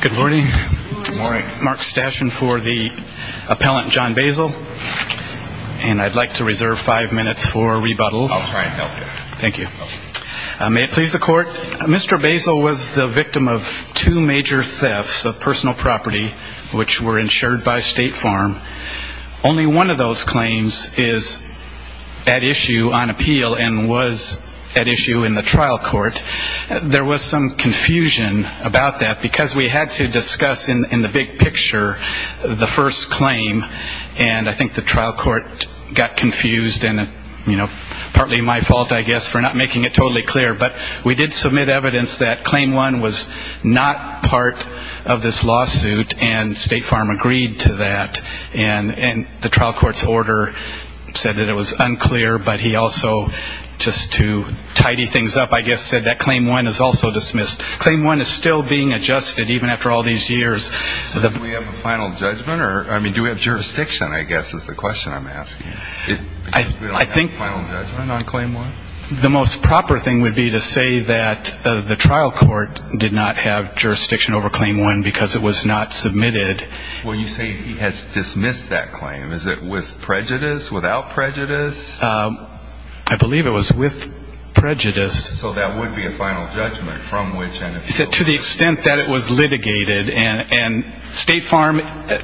Good morning. Mark Stashin for the appellant John Boesel. And I'd like to reserve five minutes for rebuttal. May it please the court, Mr. Boesel was the victim of two major thefts of personal property which were insured by State Farm. Only one of those claims is at issue on appeal and was at issue in the trial court. There was some confusion about that because we had to discuss in the big picture the first claim. And I think the trial court got confused and, you know, partly my fault, I guess, for not making it totally clear. But we did submit evidence that claim one was not part of this lawsuit, and State Farm agreed to that. And the trial court's order said that it was unclear, but he also, just to tidy things up, I guess, said that claim one is also dismissed. Claim one is still being adjusted even after all these years. Do we have a final judgment? I mean, do we have jurisdiction, I guess, is the question I'm asking. I think the most proper thing would be to say that the trial court did not have jurisdiction over claim one because it was not submitted. Well, you say he has dismissed that claim. Is it with prejudice, without prejudice? I believe it was with prejudice. So that would be a final judgment from which and if so... To the extent that it was litigated, and State Farm,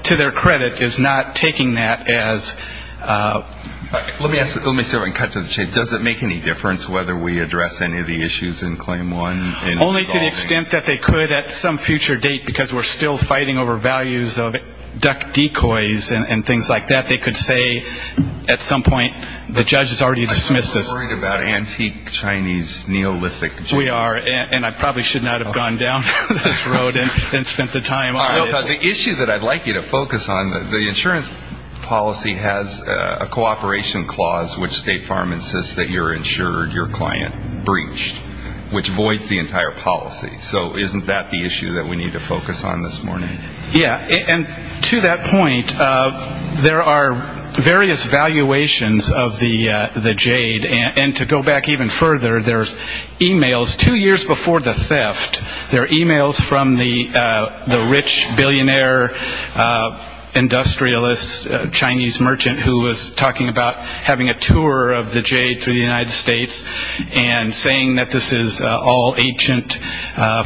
to their credit, is not taking that as... Let me cut to the chase. Does it make any difference whether we address any of the issues in claim one? Only to the extent that they could at some future date because we're still fighting over values of duck decoys and things like that. They could say at some point the judge has already dismissed this. I'm so worried about antique Chinese neolithic... We are, and I probably should not have gone down this road and spent the time on this. The issue that I'd like you to focus on, the insurance policy has a cooperation clause which State Farm insists that you're insured, your client breached, which voids the entire policy. So isn't that the issue that we need to focus on this morning? Yeah, and to that point, there are various valuations of the jade. And to go back even further, there's e-mails. Two years before the theft, there are e-mails from the rich billionaire industrialist Chinese merchant who was talking about having a tour of the jade through the United States and saying that this is all ancient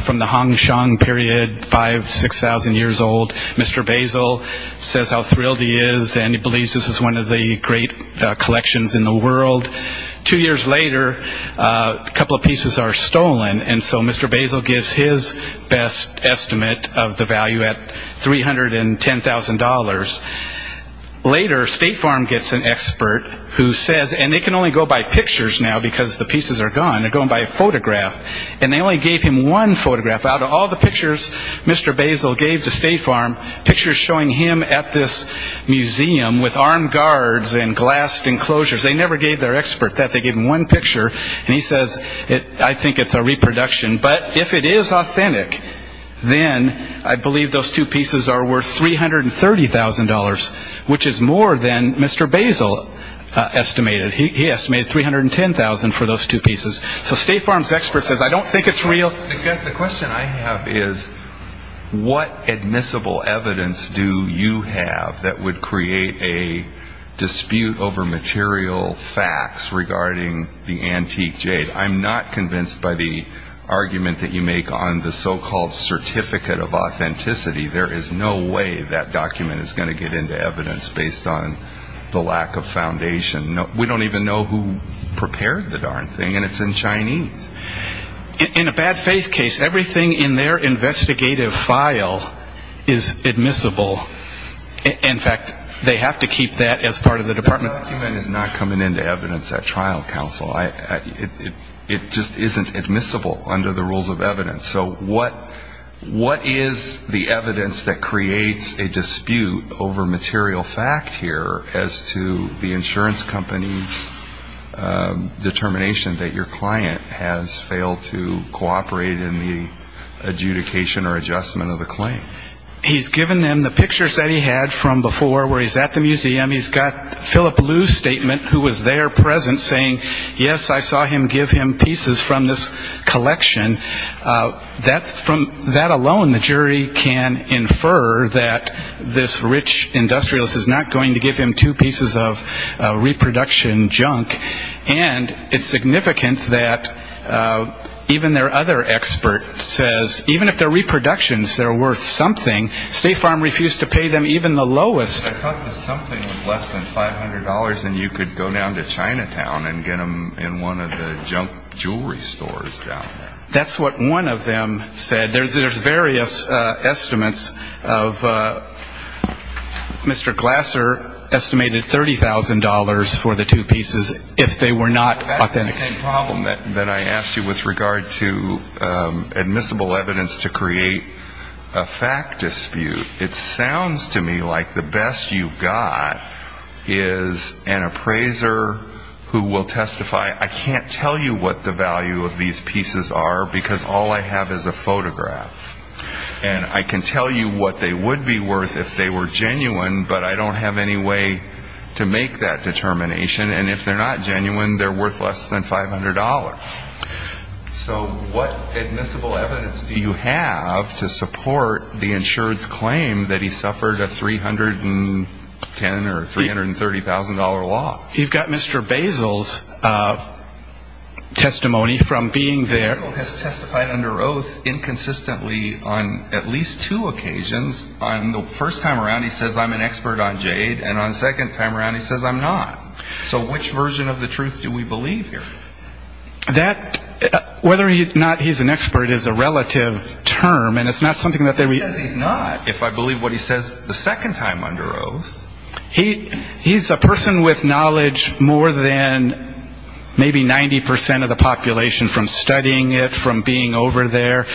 from the Hong Kong period, 5,000, 6,000 years old. Mr. Basil says how thrilled he is and he believes this is one of the great collections in the world. Two years later, a couple of pieces are stolen, and so Mr. Basil gives his best estimate of the value at $310,000. Later, State Farm gets an expert who says, and they can only go by pictures now because the pieces are gone, they're going by a photograph, and they only gave him one photograph. Out of all the pictures Mr. Basil gave to State Farm, pictures showing him at this museum with armed guards and glass enclosures. They never gave their expert that. They gave him one picture, and he says, I think it's a reproduction. But if it is authentic, then I believe those two pieces are worth $330,000, which is more than Mr. Basil estimated. He estimated $310,000 for those two pieces. So State Farm's expert says, I don't think it's real. The question I have is, what admissible evidence do you have that would create a dispute over material facts regarding the antique jade? I'm not convinced by the argument that you make on the so-called certificate of authenticity. There is no way that document is going to get into evidence based on the lack of foundation. We don't even know who prepared the darn thing, and it's in Chinese. In a bad faith case, everything in their investigative file is admissible. In fact, they have to keep that as part of the department. The document is not coming into evidence at trial counsel. It just isn't admissible under the rules of evidence. So what is the evidence that creates a dispute over material fact here as to the insurance company's determination that your client has failed to cooperate in the adjudication or adjustment of the claim? He's given them the pictures that he had from before where he's at the museum. He's got Philip Liu's statement, who was there present, saying, yes, I saw him give him pieces from this collection. From that alone, the jury can infer that this rich industrialist is not going to give him two pieces of reproduction junk. And it's significant that even their other expert says, even if they're reproductions, they're worth something. State Farm refused to pay them even the lowest. I thought that something was less than $500, and you could go down to Chinatown and get them in one of the junk jewelry stores down there. That's what one of them said. There's various estimates of Mr. Glasser estimated $30,000 for the two pieces if they were not authentic. That's the same problem that I asked you with regard to admissible evidence to create a fact dispute. It sounds to me like the best you've got is an appraiser who will testify, I can't tell you what the value of these pieces are, because all I have is a photograph. And I can tell you what they would be worth if they were genuine, but I don't have any way to make that determination. And if they're not genuine, they're worth less than $500. So what admissible evidence do you have to support the insured's claim that he suffered a $310,000 or $330,000 loss? You've got Mr. Basil's testimony from being there. Basil has testified under oath inconsistently on at least two occasions. On the first time around he says I'm an expert on jade, and on the second time around he says I'm not. So which version of the truth do we believe here? Whether or not he's an expert is a relative term. He says he's not if I believe what he says the second time under oath. He's a person with knowledge more than maybe 90% of the population from studying it, from being over there.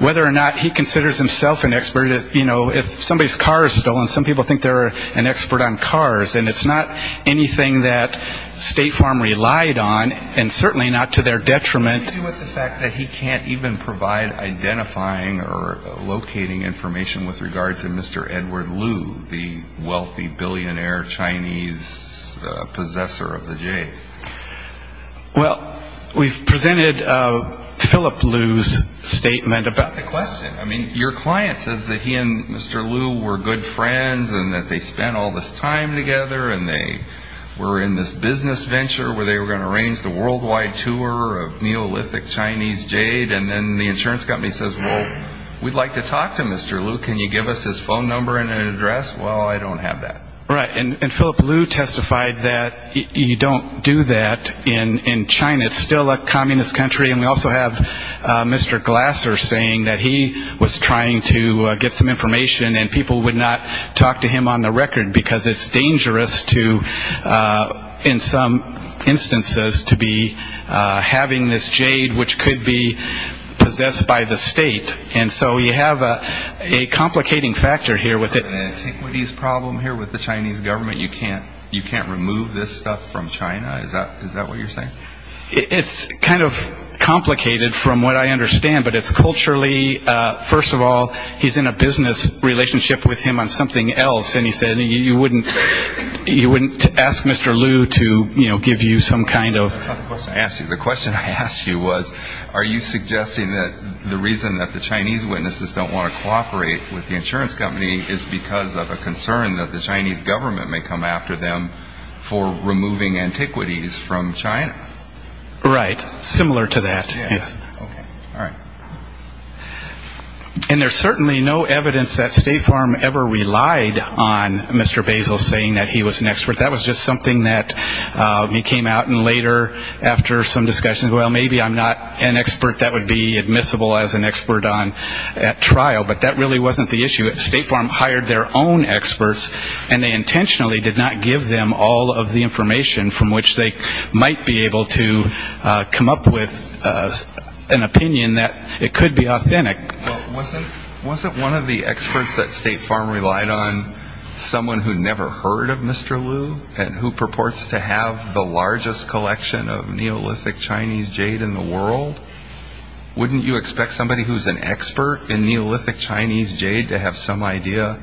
Whether or not he considers himself an expert, you know, if somebody's car is stolen, some people think they're an expert on cars, and it's not anything that State Farm relied on, and certainly not to their detriment. What do you do with the fact that he can't even provide identifying or locating information with regard to Mr. Edward Liu, the wealthy billionaire Chinese possessor of the jade? Well, we've presented Philip Liu's statement about the question. I mean, your client says that he and Mr. Liu were good friends and that they spent all this time together and they were in this business venture where they were going to arrange the worldwide tour of Neolithic Chinese jade, and then the insurance company says, well, we'd like to talk to Mr. Liu. Can you give us his phone number and address? Well, I don't have that. Right, and Philip Liu testified that you don't do that in China. It's still a communist country, and we also have Mr. Glasser saying that he was trying to get some information and people would not talk to him on the record because it's dangerous to, in some instances, to be having this jade which could be possessed by the state. And so you have a complicating factor here with it. Do you have an antiquities problem here with the Chinese government? You can't remove this stuff from China? Is that what you're saying? It's kind of complicated from what I understand, but it's culturally. First of all, he's in a business relationship with him on something else, and he said you wouldn't ask Mr. Liu to give you some kind of. That's not the question I asked you. The question I asked you was are you suggesting that the reason that the Chinese witnesses don't want to cooperate with the insurance company is because of a concern that the Chinese government may come after them for removing antiquities from China? Right, similar to that. And there's certainly no evidence that State Farm ever relied on Mr. Basil saying that he was an expert. That was just something that came out later after some discussions. Well, maybe I'm not an expert that would be admissible as an expert at trial, but that really wasn't the issue. State Farm hired their own experts, and they intentionally did not give them all of the information from which they might be able to come up with an opinion that it could be authentic. Well, wasn't one of the experts that State Farm relied on someone who never heard of Mr. Liu and who purports to have the largest collection of Neolithic Chinese jade in the world? Wouldn't you expect somebody who's an expert in Neolithic Chinese jade to have some idea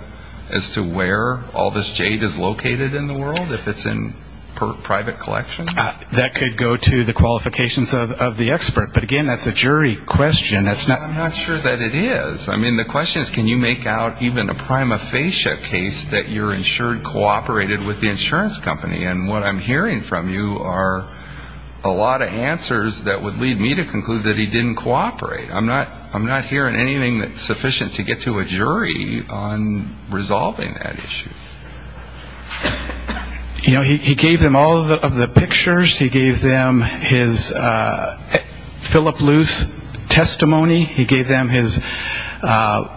as to where all this jade is located in the world if it's in private collections? That could go to the qualifications of the expert. But, again, that's a jury question. I'm not sure that it is. I mean, the question is can you make out even a prima facie case that you're insured, cooperated with the insurance company. And what I'm hearing from you are a lot of answers that would lead me to conclude that he didn't cooperate. I'm not hearing anything that's sufficient to get to a jury on resolving that issue. You know, he gave them all of the pictures. He gave them his Philip Luce testimony. He gave them the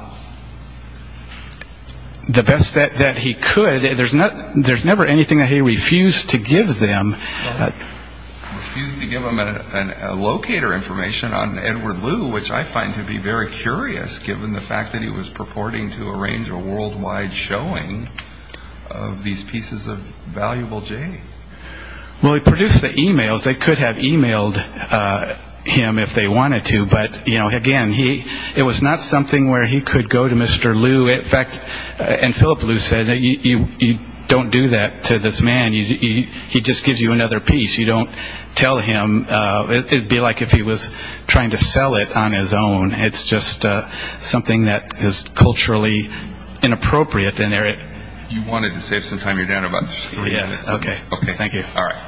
best that he could. But there's never anything that he refused to give them. Refused to give them a locator information on Edward Liu, which I find to be very curious, given the fact that he was purporting to arrange a worldwide showing of these pieces of valuable jade. Well, he produced the e-mails. They could have e-mailed him if they wanted to. But, again, it was not something where he could go to Mr. Liu. In fact, and Philip Luce said, you don't do that to this man. He just gives you another piece. You don't tell him. It would be like if he was trying to sell it on his own. It's just something that is culturally inappropriate. You wanted to save some time. You're down to about three minutes. Okay. Thank you. All right.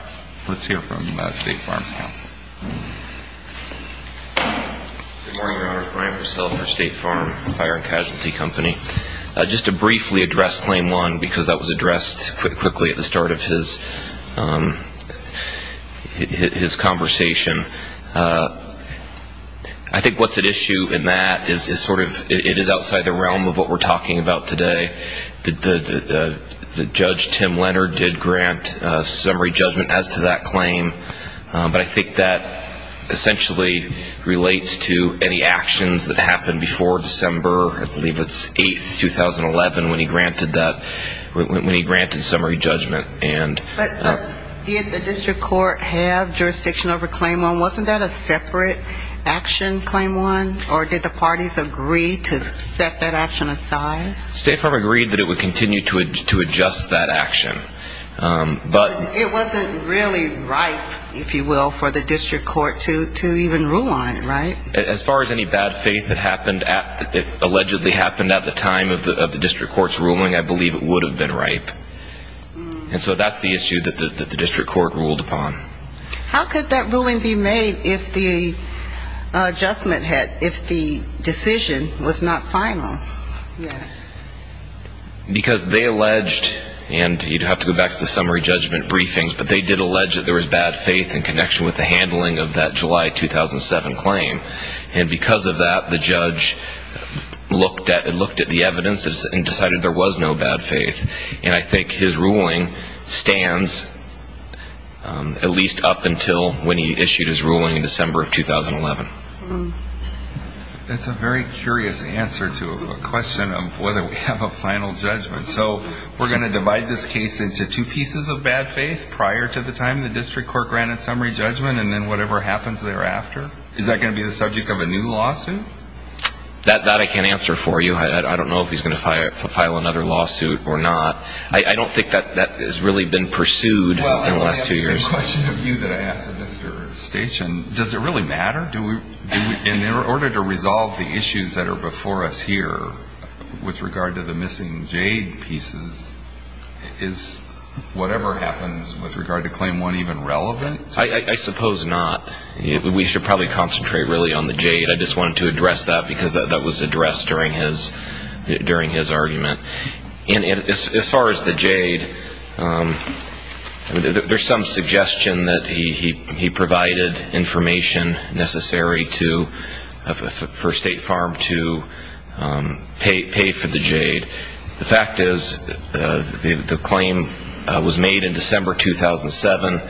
Let's hear from State Farm Counsel. Good morning, Your Honor. Brian Purcell for State Farm Fire and Casualty Company. Just to briefly address Claim 1, because that was addressed quickly at the start of his conversation. I think what's at issue in that is sort of it is outside the realm of what we're talking about today. Judge Tim Leonard did grant summary judgment as to that claim. But I think that essentially relates to any actions that happened before December, I believe it's 8th, 2011, when he granted that, when he granted summary judgment. But did the district court have jurisdiction over Claim 1? Wasn't that a separate action, Claim 1? Or did the parties agree to set that action aside? State Farm agreed that it would continue to adjust that action. It wasn't really ripe, if you will, for the district court to even rule on it, right? As far as any bad faith that allegedly happened at the time of the district court's ruling, I believe it would have been ripe. And so that's the issue that the district court ruled upon. How could that ruling be made if the adjustment had, if the decision was not final? Because they alleged, and you'd have to go back to the summary judgment briefing, but they did allege that there was bad faith in connection with the handling of that July 2007 claim. And because of that, the judge looked at the evidence and decided there was no bad faith. And I think his ruling stands at least up until when he issued his ruling in December of 2011. That's a very curious answer to a question of whether we have a final judgment. So we're going to divide this case into two pieces of bad faith prior to the time the district court granted summary judgment and then whatever happens thereafter? Is that going to be the subject of a new lawsuit? That I can't answer for you. I don't know if he's going to file another lawsuit or not. I don't think that has really been pursued in the last two years. Well, I have the same question of you that I asked of Mr. Station. Does it really matter? In order to resolve the issues that are before us here with regard to the missing jade pieces, is whatever happens with regard to Claim 1 even relevant? I suppose not. We should probably concentrate really on the jade. I just wanted to address that because that was addressed during his argument. As far as the jade, there's some suggestion that he provided information necessary for State Farm to pay for the jade. The fact is the claim was made in December 2007.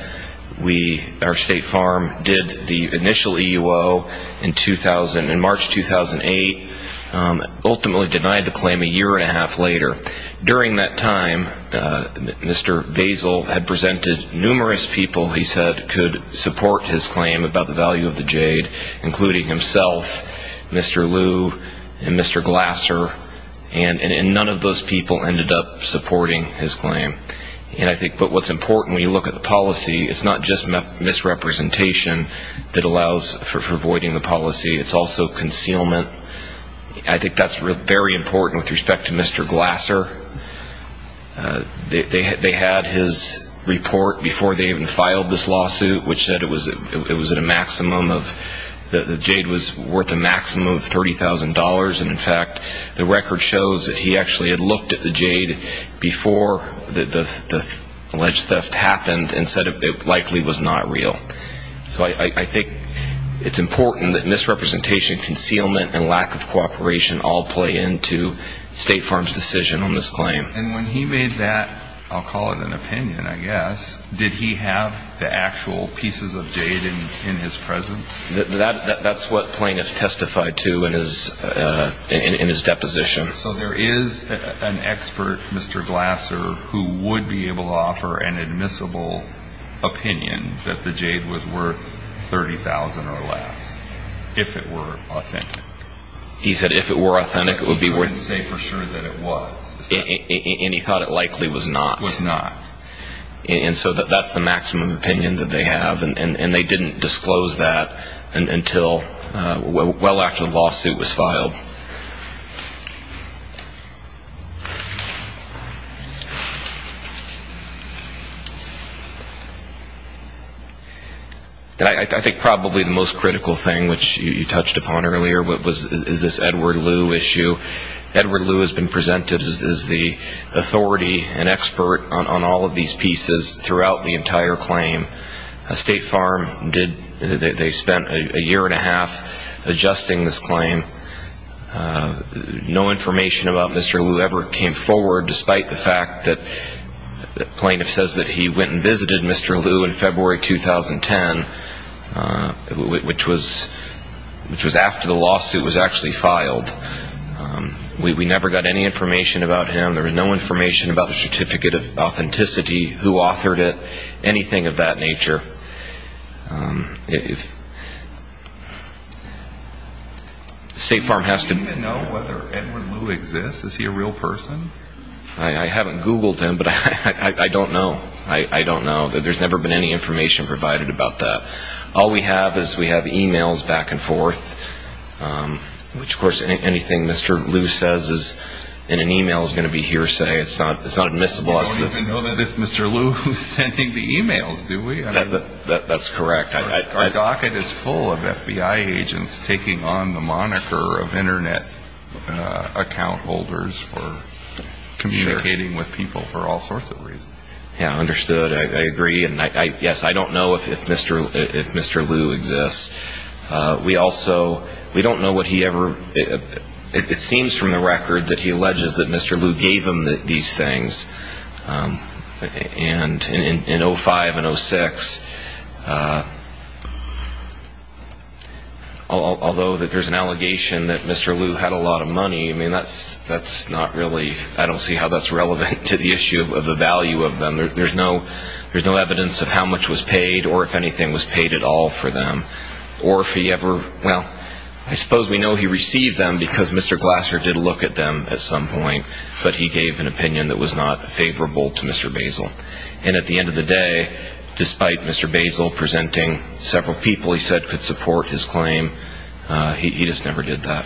Our State Farm did the initial EUO in March 2008, ultimately denied the claim a year and a half later. During that time, Mr. Basil had presented numerous people he said could support his claim about the value of the jade, including himself, Mr. Liu, and Mr. Glasser, and none of those people ended up supporting his claim. But what's important when you look at the policy, it's not just misrepresentation that allows for voiding the policy. It's also concealment. I think that's very important with respect to Mr. Glasser. They had his report before they even filed this lawsuit, which said the jade was worth a maximum of $30,000. And, in fact, the record shows that he actually had looked at the jade before the alleged theft happened and said it likely was not real. So I think it's important that misrepresentation, concealment, and lack of cooperation all play into State Farm's decision on this claim. And when he made that, I'll call it an opinion, I guess, did he have the actual pieces of jade in his presence? That's what plaintiffs testified to in his deposition. So there is an expert, Mr. Glasser, who would be able to offer an admissible opinion that the jade was worth $30,000 or less, if it were authentic. He said if it were authentic, it would be worth it. He wouldn't say for sure that it was. And he thought it likely was not. Was not. And so that's the maximum opinion that they have. And they didn't disclose that until well after the lawsuit was filed. I think probably the most critical thing, which you touched upon earlier, is this Edward Lew issue. Edward Lew has been presented as the authority and expert on all of these pieces throughout the entire claim. State Farm, they spent a year and a half adjusting this claim. No information about Mr. Lew ever came forward, despite the fact that plaintiff says that he went and visited Mr. Lew in February 2010, which was after the lawsuit was actually filed. We never got any information about him. There was no information about the certificate of authenticity, who authored it, anything of that nature. State Farm has to be- Do you even know whether Edward Lew exists? Is he a real person? I haven't Googled him, but I don't know. I don't know. There's never been any information provided about that. All we have is we have e-mails back and forth, which, of course, anything Mr. Lew says in an e-mail is going to be hearsay. It's not admissible as to- You don't even know that it's Mr. Lew who's sending the e-mails, do we? That's correct. Our docket is full of FBI agents taking on the moniker of Internet account holders for communicating with people for all sorts of reasons. Yeah, understood. I agree. Yes, I don't know if Mr. Lew exists. We also don't know what he ever- It seems from the record that he alleges that Mr. Lew gave him these things in 2005 and 2006. Although there's an allegation that Mr. Lew had a lot of money, that's not really- There's no evidence of how much was paid or if anything was paid at all for them. Or if he ever- Well, I suppose we know he received them because Mr. Glasser did look at them at some point, but he gave an opinion that was not favorable to Mr. Basil. And at the end of the day, despite Mr. Basil presenting several people he said could support his claim, he just never did that.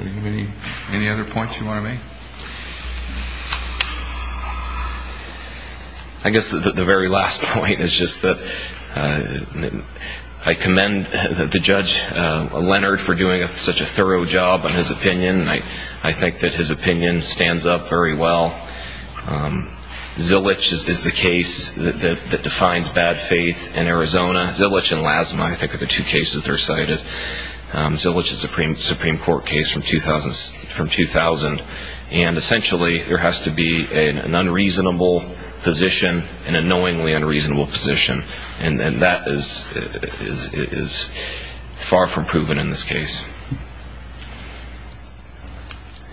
Anybody have any other points you want to make? I guess the very last point is just that I commend the Judge Leonard for doing such a thorough job on his opinion. I think that his opinion stands up very well. Zilich is the case that defines bad faith in Arizona. Zilich and Lasma I think are the two cases that are cited. Zilich is a Supreme Court case from 2000. And essentially there has to be an unreasonable position, an annoyingly unreasonable position. And that is far from proven in this case.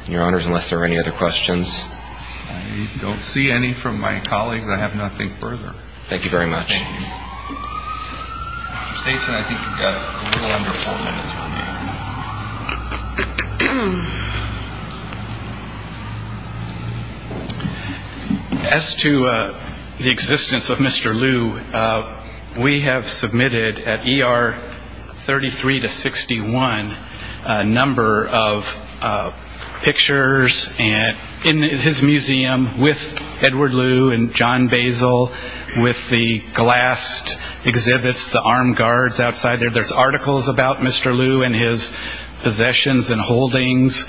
Your Honors, unless there are any other questions. I don't see any from my colleagues. I have nothing further. Thank you very much. Thank you. Mr. Staten, I think you've got a little under four minutes remaining. As to the existence of Mr. Liu, we have submitted at ER 33 to 61 a number of pictures in his museum with Edward Liu and John Basil. With the glassed exhibits, the armed guards outside there. There's articles about Mr. Liu and his possessions and holdings.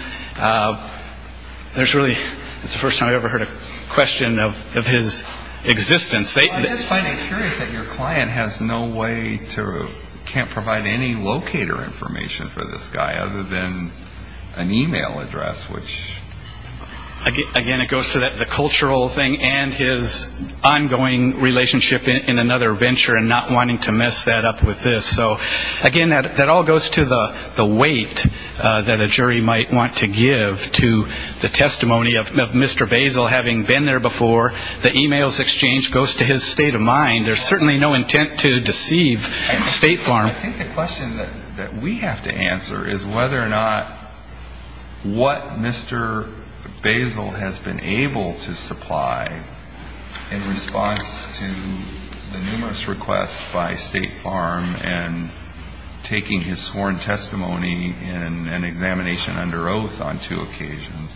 There's really, it's the first time I've ever heard a question of his existence. I'm just finding it curious that your client has no way to, can't provide any locator information for this guy other than an e-mail address. Again, it goes to the cultural thing and his ongoing relationship in another venture and not wanting to mess that up with this. So, again, that all goes to the weight that a jury might want to give to the testimony of Mr. Basil having been there before. The e-mails exchange goes to his state of mind. There's certainly no intent to deceive State Farm. I think the question that we have to answer is whether or not what Mr. Basil has been able to supply in response to the numerous requests by State Farm and taking his sworn testimony in an examination under oath on two occasions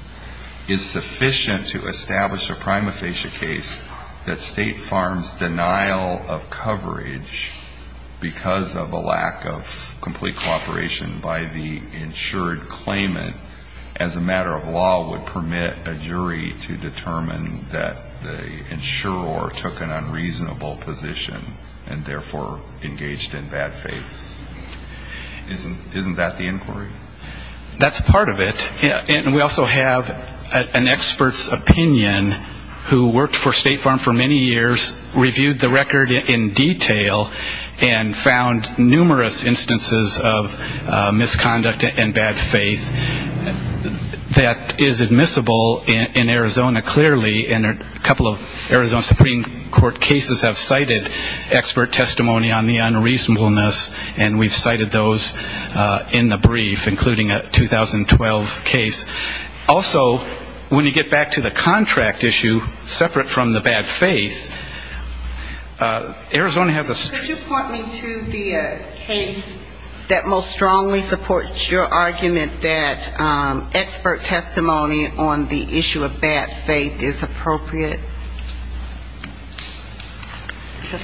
is sufficient to establish a prima facie case that State Farm's denial of coverage because of a lack of complete cooperation by the insured claimant as a matter of law would permit a jury to determine that the insurer took an unreasonable position and, therefore, engaged the jury. Isn't that the inquiry? That's part of it. And we also have an expert's opinion who worked for State Farm for many years, reviewed the record in detail, and found numerous instances of misconduct and bad faith that is admissible in Arizona clearly. And a couple of Arizona Supreme Court cases have cited expert testimony on the unreasonableness, and we've cited those in the brief, including a 2012 case. Also, when you get back to the contract issue, separate from the bad faith, Arizona has a str... Because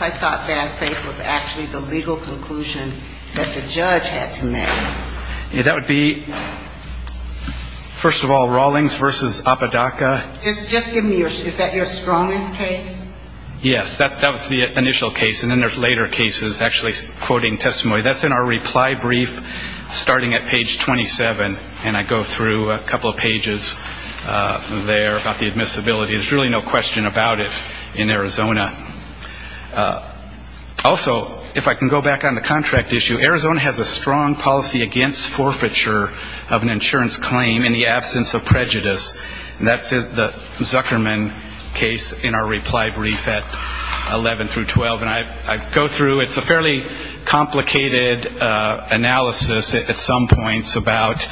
I thought bad faith was actually the legal conclusion that the judge had to make. That would be, first of all, Rawlings v. Apodaca. Just give me your... Is that your strongest case? Yes. That was the initial case. And then there's later cases actually quoting testimony. That's in our reply brief starting at page 27. And I go through a couple of pages there about the admissibility. There's really no question about it in Arizona. Also, if I can go back on the contract issue, Arizona has a strong policy against forfeiture of an insurance claim in the absence of prejudice. And that's the Zuckerman case in our reply brief at 11 through 12. And I go through. It's a fairly complicated analysis at some points about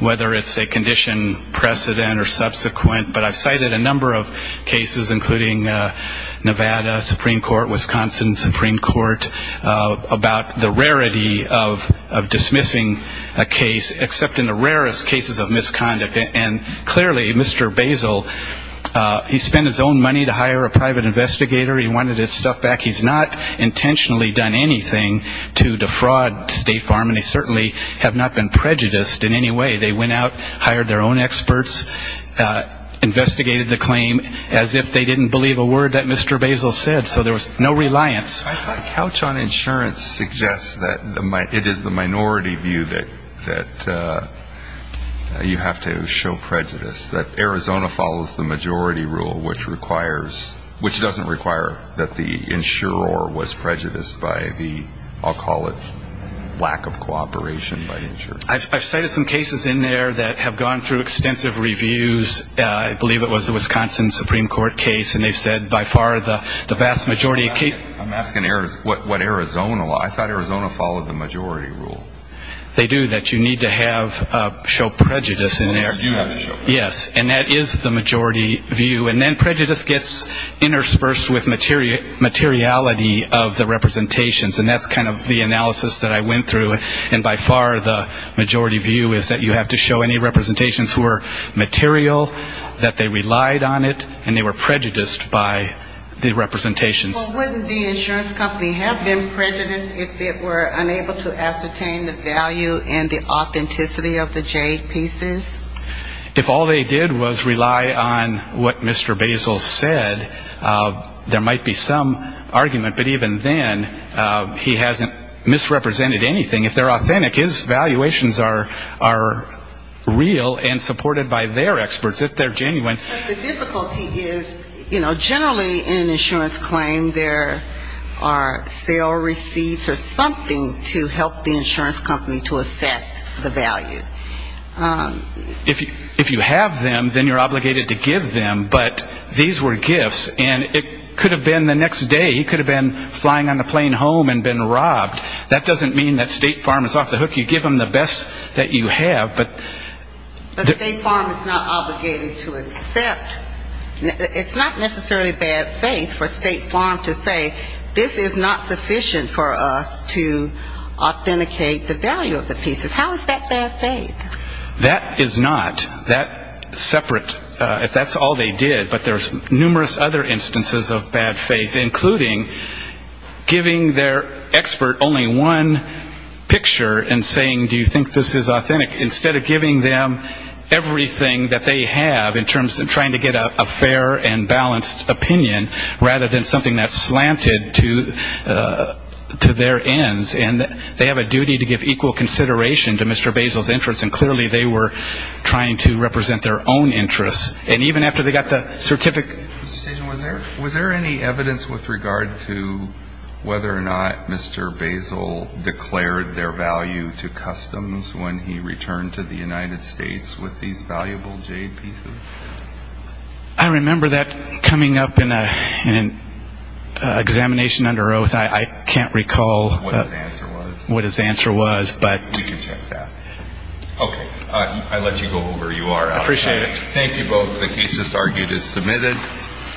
whether it's a condition precedent or subsequent. But I've cited a number of cases, including Nevada Supreme Court, Wisconsin Supreme Court, about the rarity of dismissing a case, except in the rarest cases of misconduct. And clearly, Mr. Basil, he spent his own money to hire a private investigator. He wanted his stuff back. He's not intentionally done anything to defraud State Farm. And they certainly have not been prejudiced in any way. They went out, hired their own experts, investigated the claim as if they didn't believe a word that Mr. Basil said. So there was no reliance. I thought couch on insurance suggests that it is the minority view that you have to show prejudice, that Arizona follows the majority rule, which doesn't require that the insurer was prejudiced by the, I'll call it, lack of cooperation by the insurer. I've cited some cases in there that have gone through extensive reviews. I believe it was the Wisconsin Supreme Court case. And they've said by far the vast majority of cases. I'm asking what Arizona law. I thought Arizona followed the majority rule. They do, that you need to show prejudice in there. Yes, and that is the majority view. And then prejudice gets interspersed with materiality of the representations. And that's kind of the analysis that I went through. And by far the majority view is that you have to show any representations who are material, that they relied on it, and they were prejudiced by the representations. Well, wouldn't the insurance company have been prejudiced if it were unable to ascertain the value and the authenticity of the J pieces? If all they did was rely on what Mr. Basil said, there might be some argument. But even then, he hasn't misrepresented anything. If they're authentic, his valuations are real and supported by their experts, if they're genuine. But the difficulty is, you know, generally in an insurance claim there are sale receipts or something to help the insurance company to assess the value. If you have them, then you're obligated to give them. But these were gifts. And it could have been the next day he could have been flying on the plane home and been robbed. That doesn't mean that State Farm is off the hook. You give them the best that you have. But State Farm is not obligated to accept. It's not necessarily bad faith for State Farm to say, this is not sufficient for us to authenticate the value of the pieces. How is that bad faith? That is not. That's separate. That's all they did. But there's numerous other instances of bad faith, including giving their expert only one picture and saying, do you think this is authentic, instead of giving them everything that they have in terms of trying to get a fair and balanced opinion, rather than something that's slanted to their ends. And they have a duty to give equal consideration to Mr. Basil's interests. And clearly they were trying to represent their own interests. And even after they got the certificate. Was there any evidence with regard to whether or not Mr. Basil declared their value to customs when he returned to the United States with these valuable jade pieces? I remember that coming up in an examination under oath. I can't recall what his answer was. We can check that. Okay. I let you go over. You are out of time. I appreciate it. Thank you both. The case is argued as submitted.